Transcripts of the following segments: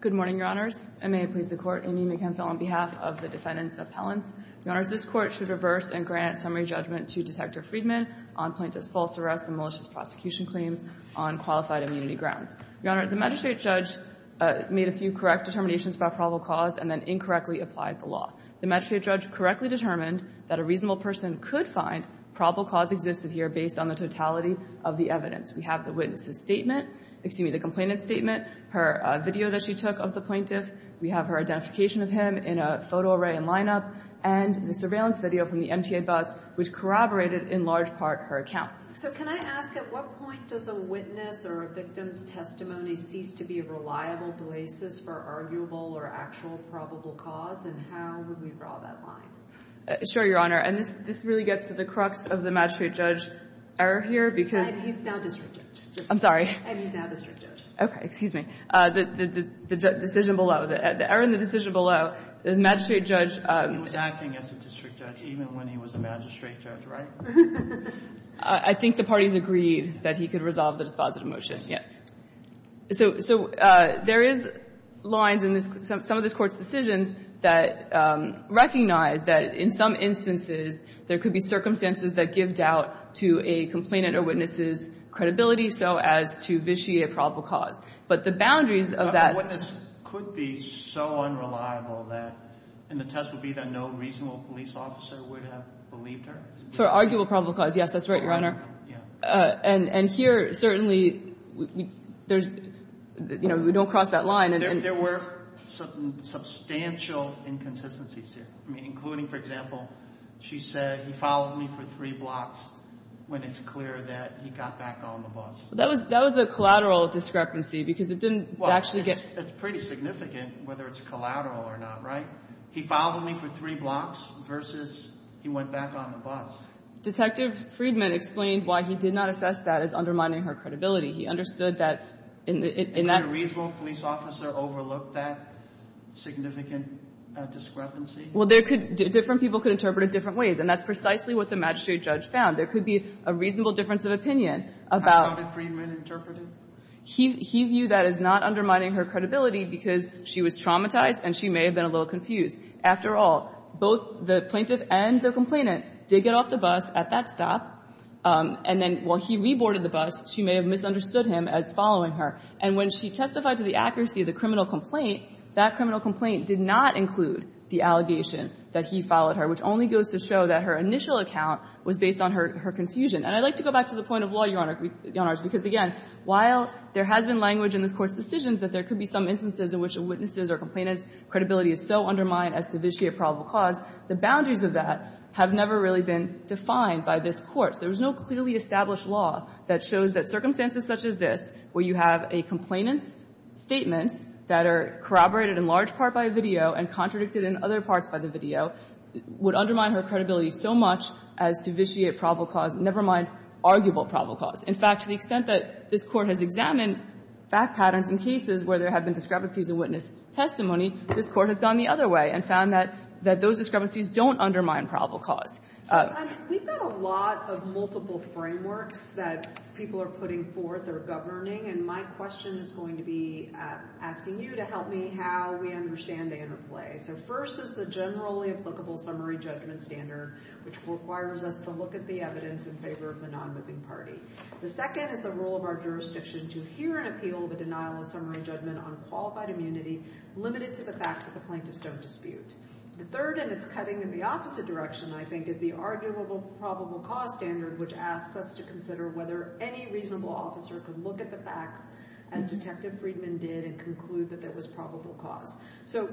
Good morning, Your Honors. I may please the Court. Amy McKenfill on behalf of the defendants appellants. Your Honors, this Court should reverse and grant summary judgment to Detector Friedman on plaintiff's false arrest and malicious prosecution claims on qualified immunity grounds. Your Honor, the magistrate judge made a few correct determinations about probable cause and then incorrectly applied the law. The magistrate judge correctly determined that a reasonable person could find probable cause existed here based on the totality of the evidence. We have the witness's statement, excuse me, the complainant's statement, her video that she took of the plaintiff, we have her identification of him in a photo array and lineup, and the surveillance video from the MTA bus which corroborated in large part her account. So can I ask, at what point does a witness or a victim's testimony cease to be a reliable basis for arguable or actual probable cause, and how would we draw that line? Sure, Your Honor. And this really gets to the crux of the magistrate judge error here because... And he's now district judge. I'm sorry. And he's now district judge. Okay, excuse me. The decision below, the error in the decision below, the magistrate judge... He was acting as a district judge even when he was a magistrate judge, right? I think the parties agreed that he could resolve the dispositive motion, yes. So there is lines in some of this Court's decisions that recognize that in some instances there could be circumstances that give doubt to a complainant or witness's credibility so as to vitiate a probable cause. But the boundaries of that... A witness could be so unreliable that, and the test would be that no reasonable police officer would have believed her? For arguable probable cause, yes, that's right, Your Honor. And here, certainly, we don't cross that line. There were substantial inconsistencies here, including, for example, she said he followed me for three blocks when it's clear that he got back on the bus. That was a collateral discrepancy because it didn't actually get... Well, it's pretty significant whether it's collateral or not, right? He followed me for three blocks versus he went back on the bus. Detective Friedman explained why he did not assess that as undermining her credibility. He understood that in that... And could a reasonable police officer overlook that significant discrepancy? Well, there could... Different people could interpret it different ways, and that's precisely what the magistrate judge found. There could be a reasonable difference of opinion about... How about what Friedman interpreted? He viewed that as not undermining her credibility because she was traumatized and she may have been a little confused. After all, both the plaintiff and the complainant did get off the bus at that stop, and then while he reboarded the bus, she may have misunderstood him as following her. And when she testified to the accuracy of the criminal complaint, that criminal complaint did not include the allegation that he followed her, which only goes to show that her initial account was based on her confusion. And I'd like to go back to the point of law, Your Honor, because again, while there has been language in this Court's cases in which a witness's or a complainant's credibility is so undermined as to vitiate probable cause, the boundaries of that have never really been defined by this Court. So there's no clearly established law that shows that circumstances such as this, where you have a complainant's statements that are corroborated in large part by a video and contradicted in other parts by the video, would undermine her credibility so much as to vitiate probable cause, never mind arguable probable cause. In fact, to the extent that this Court has examined fact patterns in cases where there have been discrepancies in witness testimony, this Court has gone the other way and found that those discrepancies don't undermine probable cause. So, we've got a lot of multiple frameworks that people are putting forth or governing. And my question is going to be asking you to help me how we understand the interplay. So first is the generally applicable summary judgment standard, which requires us to look at the evidence in favor of the non-moving party. The second is the role of our jurisdiction to hear and appeal the denial of summary judgment on qualified immunity limited to the facts that the plaintiffs don't dispute. The third, and it's cutting in the opposite direction, I think, is the arguable probable cause standard, which asks us to consider whether any reasonable officer could look at the facts as Detective Friedman did and conclude that there was probable cause. So,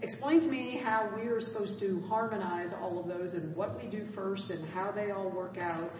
explain to me how we are supposed to harmonize all of those and what we do first and how they all work out.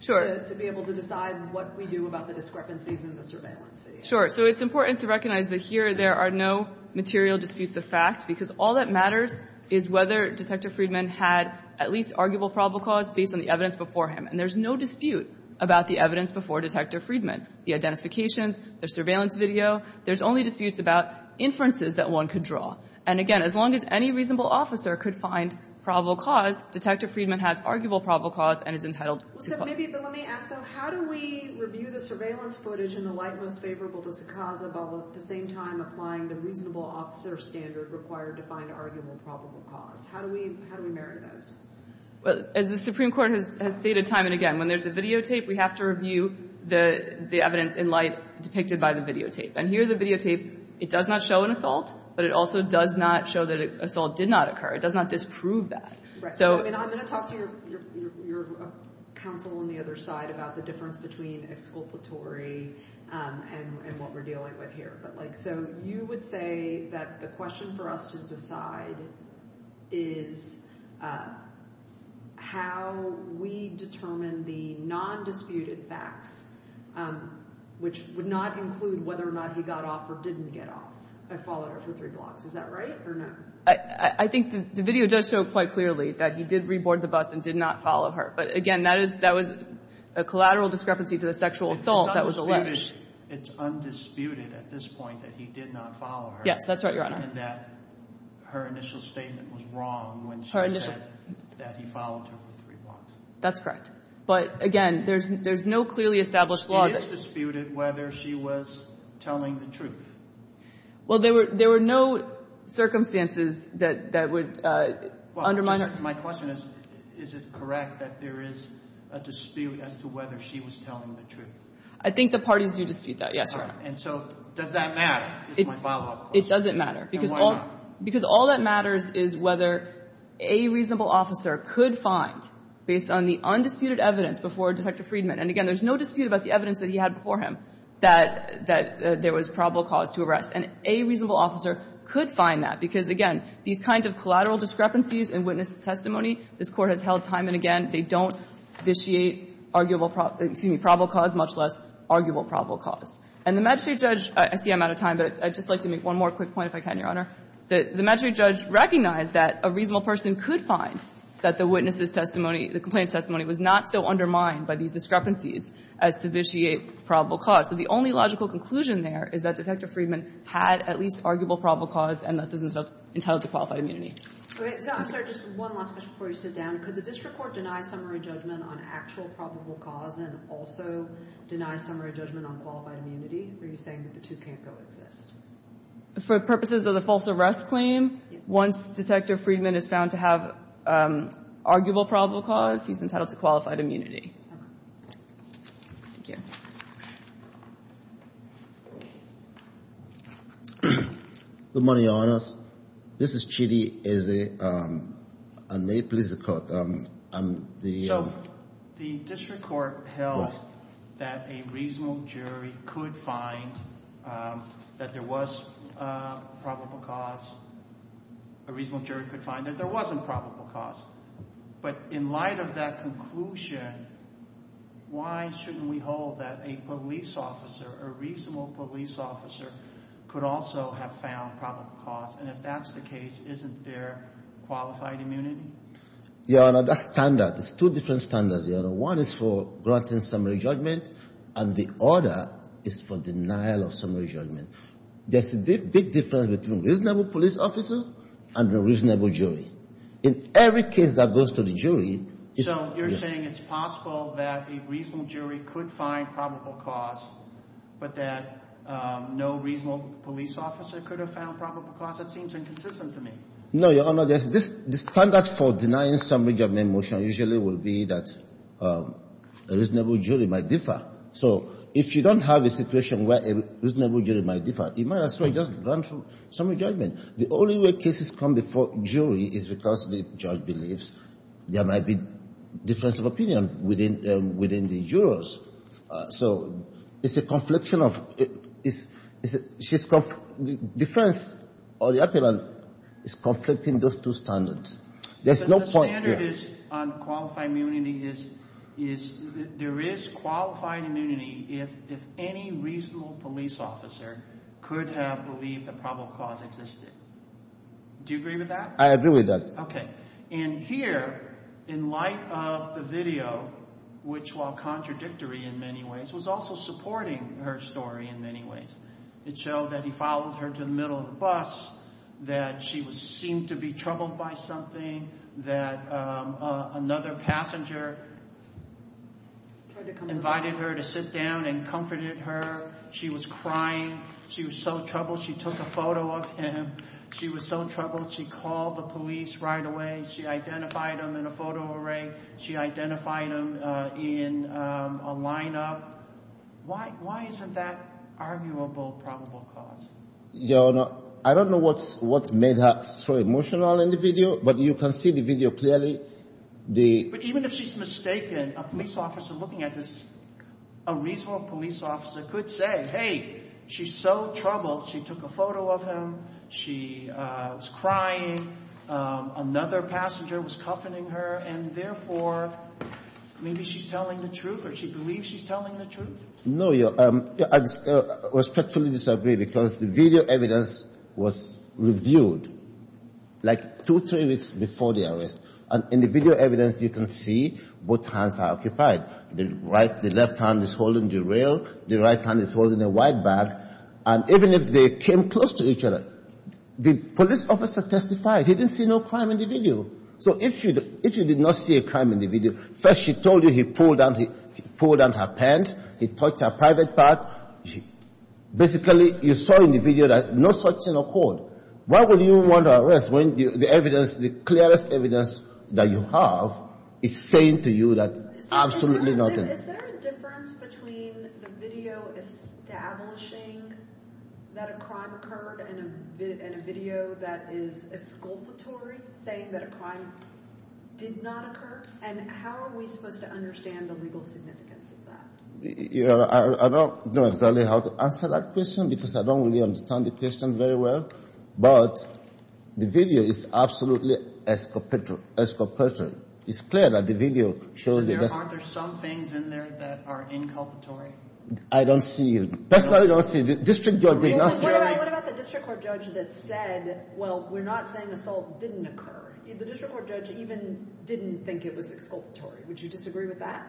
So, to be able to decide what we do about the discrepancies in the surveillance video. Sure. So, it's important to recognize that here there are no material disputes of fact because all that matters is whether Detective Friedman had at least arguable probable cause based on the evidence before him. And there's no dispute about the evidence before Detective Friedman, the identifications, the surveillance video. There's only disputes about inferences that one could draw. And again, as long as any reasonable officer could find probable cause, Detective Friedman has arguable probable cause and is entitled to cause. So, maybe, but let me ask them, how do we review the surveillance footage in the light most favorable to Sakaza while at the same time applying the reasonable officer standard required to find arguable probable cause? How do we marry those? Well, as the Supreme Court has stated time and again, when there's a videotape, we have to review the evidence in light depicted by the videotape. And here, the videotape, it does not show an assault, but it also does not show that an assault did not occur. It does not disprove that. Correct. So, I'm going to talk to your counsel on the other side about the difference between exculpatory and what we're dealing with here. But like, so, you would say that the question for us to decide is how we determine the non-disputed facts, which would not include whether or not he got off or didn't get off. I followed it for three blocks. Is that right or no? I think the video does show quite clearly that he did reboard the bus and did not follow her. But, again, that was a collateral discrepancy to the sexual assault that was alleged. It's undisputed at this point that he did not follow her. Yes, that's right, Your Honor. And that her initial statement was wrong when she said that he followed her for three blocks. That's correct. But, again, there's no clearly established law that he followed It is disputed whether she was telling the truth. Well, there were no circumstances that would undermine her. My question is, is it correct that there is a dispute as to whether she was telling the truth? I think the parties do dispute that, yes, Your Honor. And so does that matter is my follow-up question. It doesn't matter. And why not? Because all that matters is whether a reasonable officer could find, based on the undisputed evidence before Detective Friedman, and, again, there's no dispute about the evidence that he had before him, that there was probable cause to arrest. And a reasonable officer could find that, because, again, these kinds of collateral discrepancies in witness testimony, this Court has held time and again, they don't vitiate probable cause, much less arguable probable cause. And the magistrate judge – I see I'm out of time, but I'd just like to make one more quick point, if I can, Your Honor – the magistrate judge recognized that a reasonable person could find that the witness's testimony, the complaint's testimony, was not so undermined by these discrepancies as to vitiate probable cause. So the only logical conclusion there is that Detective Friedman had at least arguable probable cause, and thus is entitled to qualified immunity. Okay. So I'm sorry, just one last question before you sit down. Could the district court deny summary judgment on actual probable cause and also deny summary judgment on qualified immunity? Are you saying that the two can't coexist? For purposes of the false arrest claim, once Detective Friedman is found to have arguable probable cause, he's entitled to qualified immunity. Good morning, Your Honors. This is Chidi Ezeh. And may it please the Court, I'm the – The district court held that a reasonable jury could find that there was probable cause – a reasonable jury could find that there wasn't probable cause. But in light of that conclusion, why shouldn't we hold that a police officer, a reasonable police officer, could also have found probable cause? And if that's the case, isn't there qualified immunity? Your Honor, that's standard. It's two different standards, Your Honor. One is for granting summary judgment, and the other is for denial of summary judgment. There's a big difference between reasonable police officer and a reasonable jury. In every case that goes to the jury – So you're saying it's possible that a reasonable jury could find probable cause, but that no reasonable police officer could have found probable cause? That seems inconsistent to me. No, Your Honor. There's – the standard for denying summary judgment motion usually will be that a reasonable jury might differ. So if you don't have a situation where a reasonable jury might differ, you might as well just grant summary judgment. The only way cases come before jury is because the judge believes there might be difference of opinion within the jurors. So it's a confliction of – it's – it's conflicting those two standards. There's no point here. But the standard is on qualified immunity is – there is qualified immunity if any reasonable police officer could have believed that probable cause existed. Do you agree with that? I agree with that. Okay. And here, in light of the video, which while contradictory in many ways, was also supporting her story in many ways. It showed that he followed her to the middle of the bus, that she was – seemed to be troubled by something, that another passenger invited her to sit down and comforted her. She was crying. She was so troubled she took a photo of him. She was so troubled she called the police right away. She identified him in a photo array. She identified him in a lineup. Why – why isn't that arguable probable cause? Your Honor, I don't know what's – what made her so emotional in the video, but you can see the video clearly. The – But even if she's mistaken, a police officer looking at this, a reasonable police officer could say, hey, she's so troubled, she took a photo of him, she was crying, another passenger was comforting her, and therefore, maybe she's telling the truth or she believes she's telling the truth? No, Your Honor. I respectfully disagree because the video evidence was reviewed like two, three weeks before the arrest. And in the video evidence, you can see both hands are occupied. The right – the left hand is holding the rail, the right hand is holding the white bag. And even if they came close to each other, the police officer testified. He didn't see no crime in the video. So if she – if he did not see a crime in the video, first she told you he pulled down – he pulled down her pants, he touched her private part. Basically, you saw in the video that no such thing occurred. Why would you want to arrest when the evidence – the clearest evidence that you have is saying to you that absolutely nothing? Is there a difference between the video establishing that a crime occurred and a video that is exculpatory, saying that a crime did not occur? And how are we supposed to understand the legal significance of that? Your Honor, I don't know exactly how to answer that question because I don't really understand the question very well. But the video is absolutely exculpatory. It's clear that the video shows the – So there – aren't there some things in there that are inculpatory? I don't see – that's why I don't see – the district judge did not say – What about the district court judge that said, well, we're not saying assault didn't occur? The district court judge even didn't think it was exculpatory. Would you disagree with that?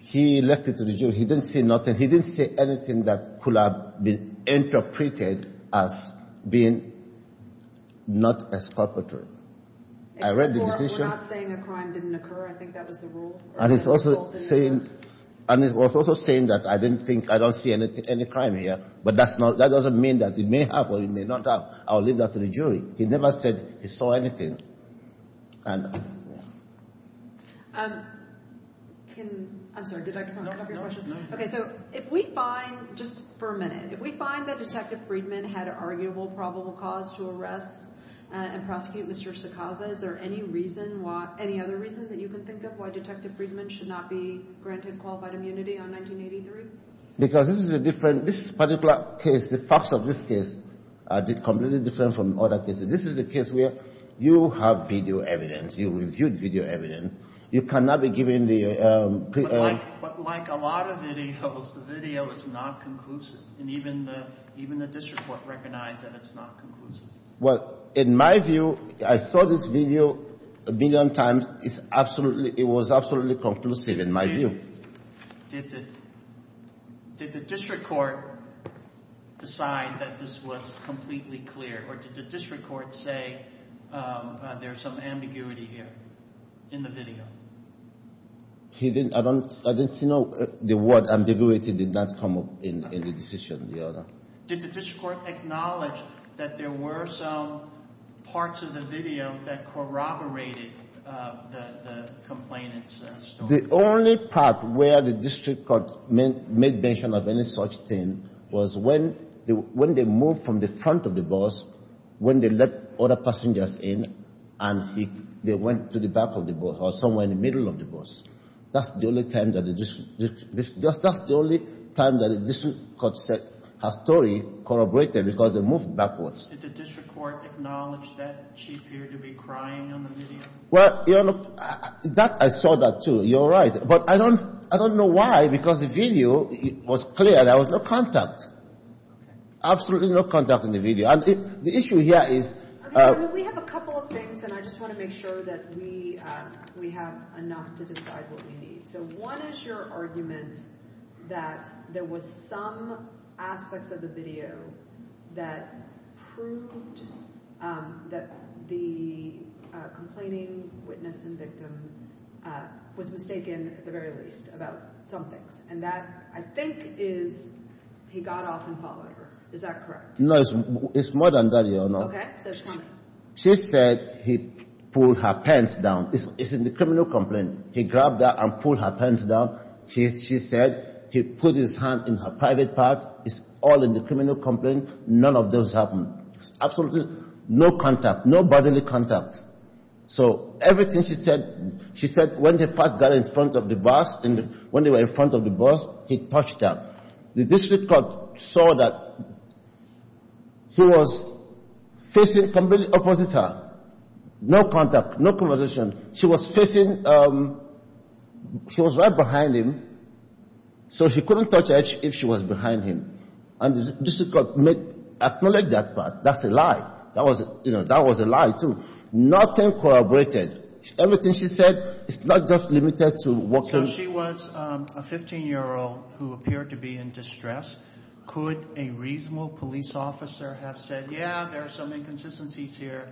He left it to the jury. He didn't say nothing. He didn't say anything that could have been interpreted as being not exculpatory. I read the decision – We're not saying a crime didn't occur? I think that was the rule? And he's also saying – and he was also saying that I didn't think – I don't see any crime here. But that's not – that doesn't mean that it may have or it may not have. I'll leave that to the jury. He never said he saw anything. I'm sorry. Did I cut off your question? No. Okay. So if we find – just for a minute – if we find that Detective Friedman had an arguable probable cause to arrest and prosecute Mr. Sekaza, is there any reason why – any other reason that you can think of why Detective Friedman should not be granted qualified immunity on 1983? Because this is a different – this particular case, the facts of this case are completely different from other cases. This is a case where you have video evidence. You reviewed video evidence. You cannot be given the – But like a lot of videos, the video is not conclusive. And even the – even the district court recognized that it's not conclusive. Well, in my view – I saw this video a million times. It's absolutely – it was absolutely conclusive in my view. Did the – did the district court decide that this was completely clear, or did the district court say there's some ambiguity here in the video? He didn't – I don't – I didn't see no – the word ambiguity did not come up in the decision, the other. Did the district court acknowledge that there were some parts of the video that corroborated the complainant's story? The only part where the district court made mention of any such thing was when they moved from the front of the bus, when they let other passengers in, and they went to the back of the bus or somewhere in the middle of the bus. That's the only time that the district – that's the only time that the district court said her story corroborated because they moved backwards. Did the district court acknowledge that she appeared to be crying on the video? Well, that – I saw that, too. You're right. But I don't – I don't know why, because the video was clear. There was no contact. Absolutely no contact in the video. And the issue here is – Okay. Well, we have a couple of things, and I just want to make sure that we have enough to decide what we need. So one is your argument that there was some aspects of the video that proved that the complaining witness and victim was mistaken, at the very least, about some things. And that, I think, is he got off and followed her. Is that correct? No, it's more than that, Your Honor. Okay. So tell me. She said he pulled her pants down. It's in the criminal complaint. He grabbed her and pulled her pants down. She said he put his hand in her private part. It's all in the criminal complaint. None of those happened. Absolutely no contact. No bodily contact. So everything she said – she said when they first got in front of the bus, and when they were in front of the bus, he touched her. The district court saw that he was facing completely opposite her. No contact, no conversation. She was facing – she was right behind him, so he couldn't touch her if she was behind him. And the district court made – acknowledged that part. That's a lie. That was – you know, that was a lie, too. Nothing corroborated. Everything she said, it's not just limited to what can – So she was a 15-year-old who appeared to be in distress. Could a reasonable police officer have said, yeah, there are some inconsistencies here,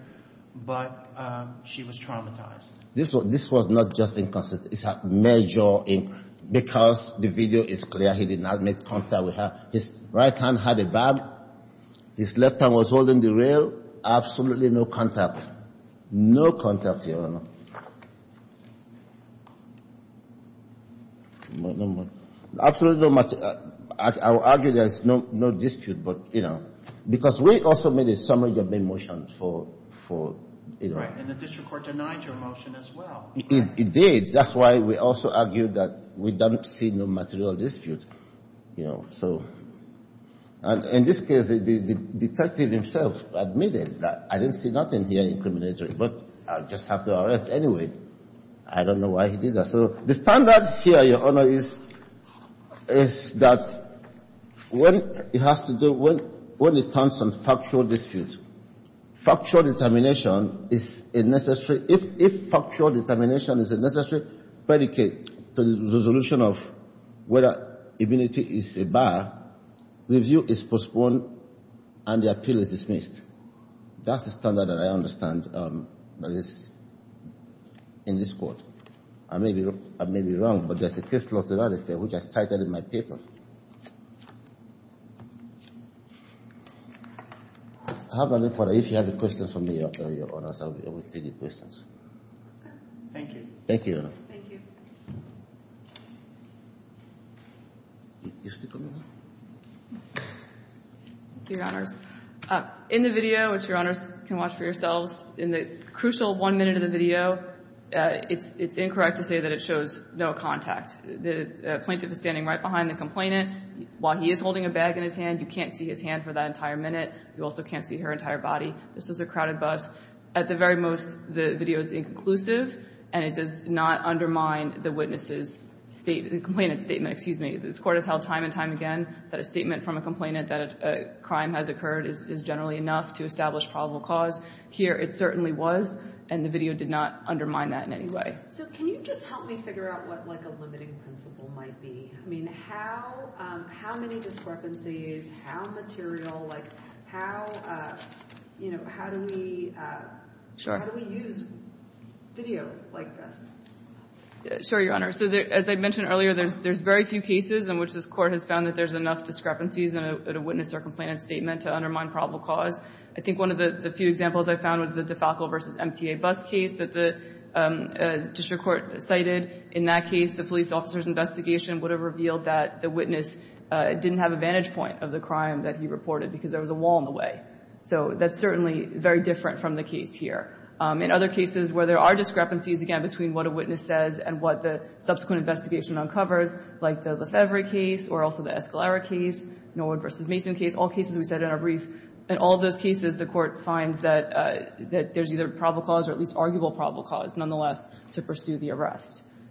but she was traumatized? This was – this was not just inconsistency. It's a major – because the video is clear, he did not make contact with her. His right hand had a bag. His left hand was holding the rail. Absolutely no contact. No contact, Your Honor. No more. Absolutely no – I would argue there's no dispute, but, you know, because we also made a summary of the motions for – for, you know. Right, and the district court denied your motion as well. It did. That's why we also argued that we don't see no material dispute, you know. So – and in this case, the detective himself admitted that I didn't see nothing here incriminatory, but I'll just have to arrest anyway. I don't know why he did that. So the standard here, Your Honor, is that when it has to do – when it comes to factual dispute, factual determination is a necessary – if factual determination is a necessary predicate to the resolution of whether immunity is a bar, review is postponed and the appeal is dismissed. That's the standard that I understand, but it's – in this court. I may be – I may be wrong, but there's a case law to that affair which I cited in my paper. I have no further – if you have any questions for me, Your Honor, I'll be able to take your questions. Thank you. Thank you, Your Honor. Thank you. Thank you, Your Honors. In the video, which Your Honors can watch for yourselves, in the crucial one minute of the video, it's incorrect to say that it shows no contact. The plaintiff is standing right behind the complainant. While he is holding a bag in his hand, you can't see his hand for that entire minute. You also can't see her entire body. This is a crowded bus. At the very most, the video is inconclusive, and it does not undermine the witness's state – the complainant's statement. Excuse me. This court has held time and time again that a statement from a complainant that a crime has occurred is generally enough to establish probable cause. Here, it certainly was, and the video did not undermine that in any way. So can you just help me figure out what, like, a limiting principle might be? I mean, how many discrepancies? How material? Like, how do we use video like this? Sure, Your Honor. So as I mentioned earlier, there's very few cases in which this court has found that there's enough discrepancies in a witness or complainant's statement to undermine probable cause. I think one of the few examples I found was the DeFalco v. MTA bus case that the district court cited. In that case, the police officer's investigation would have revealed that the witness didn't have a vantage point of the crime that he reported because there was a wall in the way. So that's certainly very different from the case here. In other cases where there are discrepancies, again, between what a witness says and what the subsequent investigation uncovers, like the Lefebvre case or also the Escalera case, Norwood v. Mason case, all cases we said in our brief. In all those cases, the court finds that there's either probable cause or at least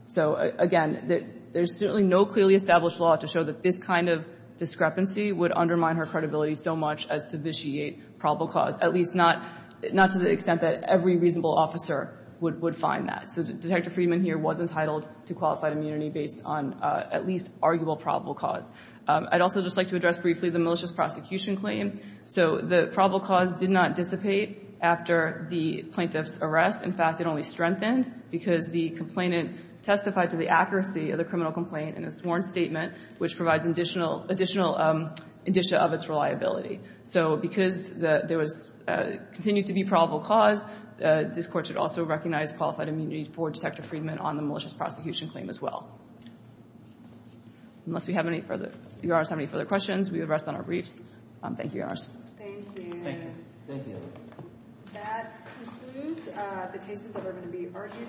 So again, there's certainly no clearly established law to show that this kind of discrepancy would undermine her credibility so much as to vitiate probable cause, at least not to the extent that every reasonable officer would find that. So Detective Friedman here was entitled to qualified immunity based on at least arguable probable cause. I'd also just like to address briefly the malicious prosecution claim. So the probable cause did not dissipate after the plaintiff's arrest. In fact, it only strengthened because the complainant testified to the accuracy of the criminal complaint in a sworn statement, which provides additional indicia of its reliability. So because there continued to be probable cause, this Court should also recognize qualified immunity for Detective Friedman on the malicious prosecution claim as well. Unless you have any further questions, we would rest on our briefs. Thank you, Your Honors. Thank you. Thank you. That concludes the cases that are going to be argued.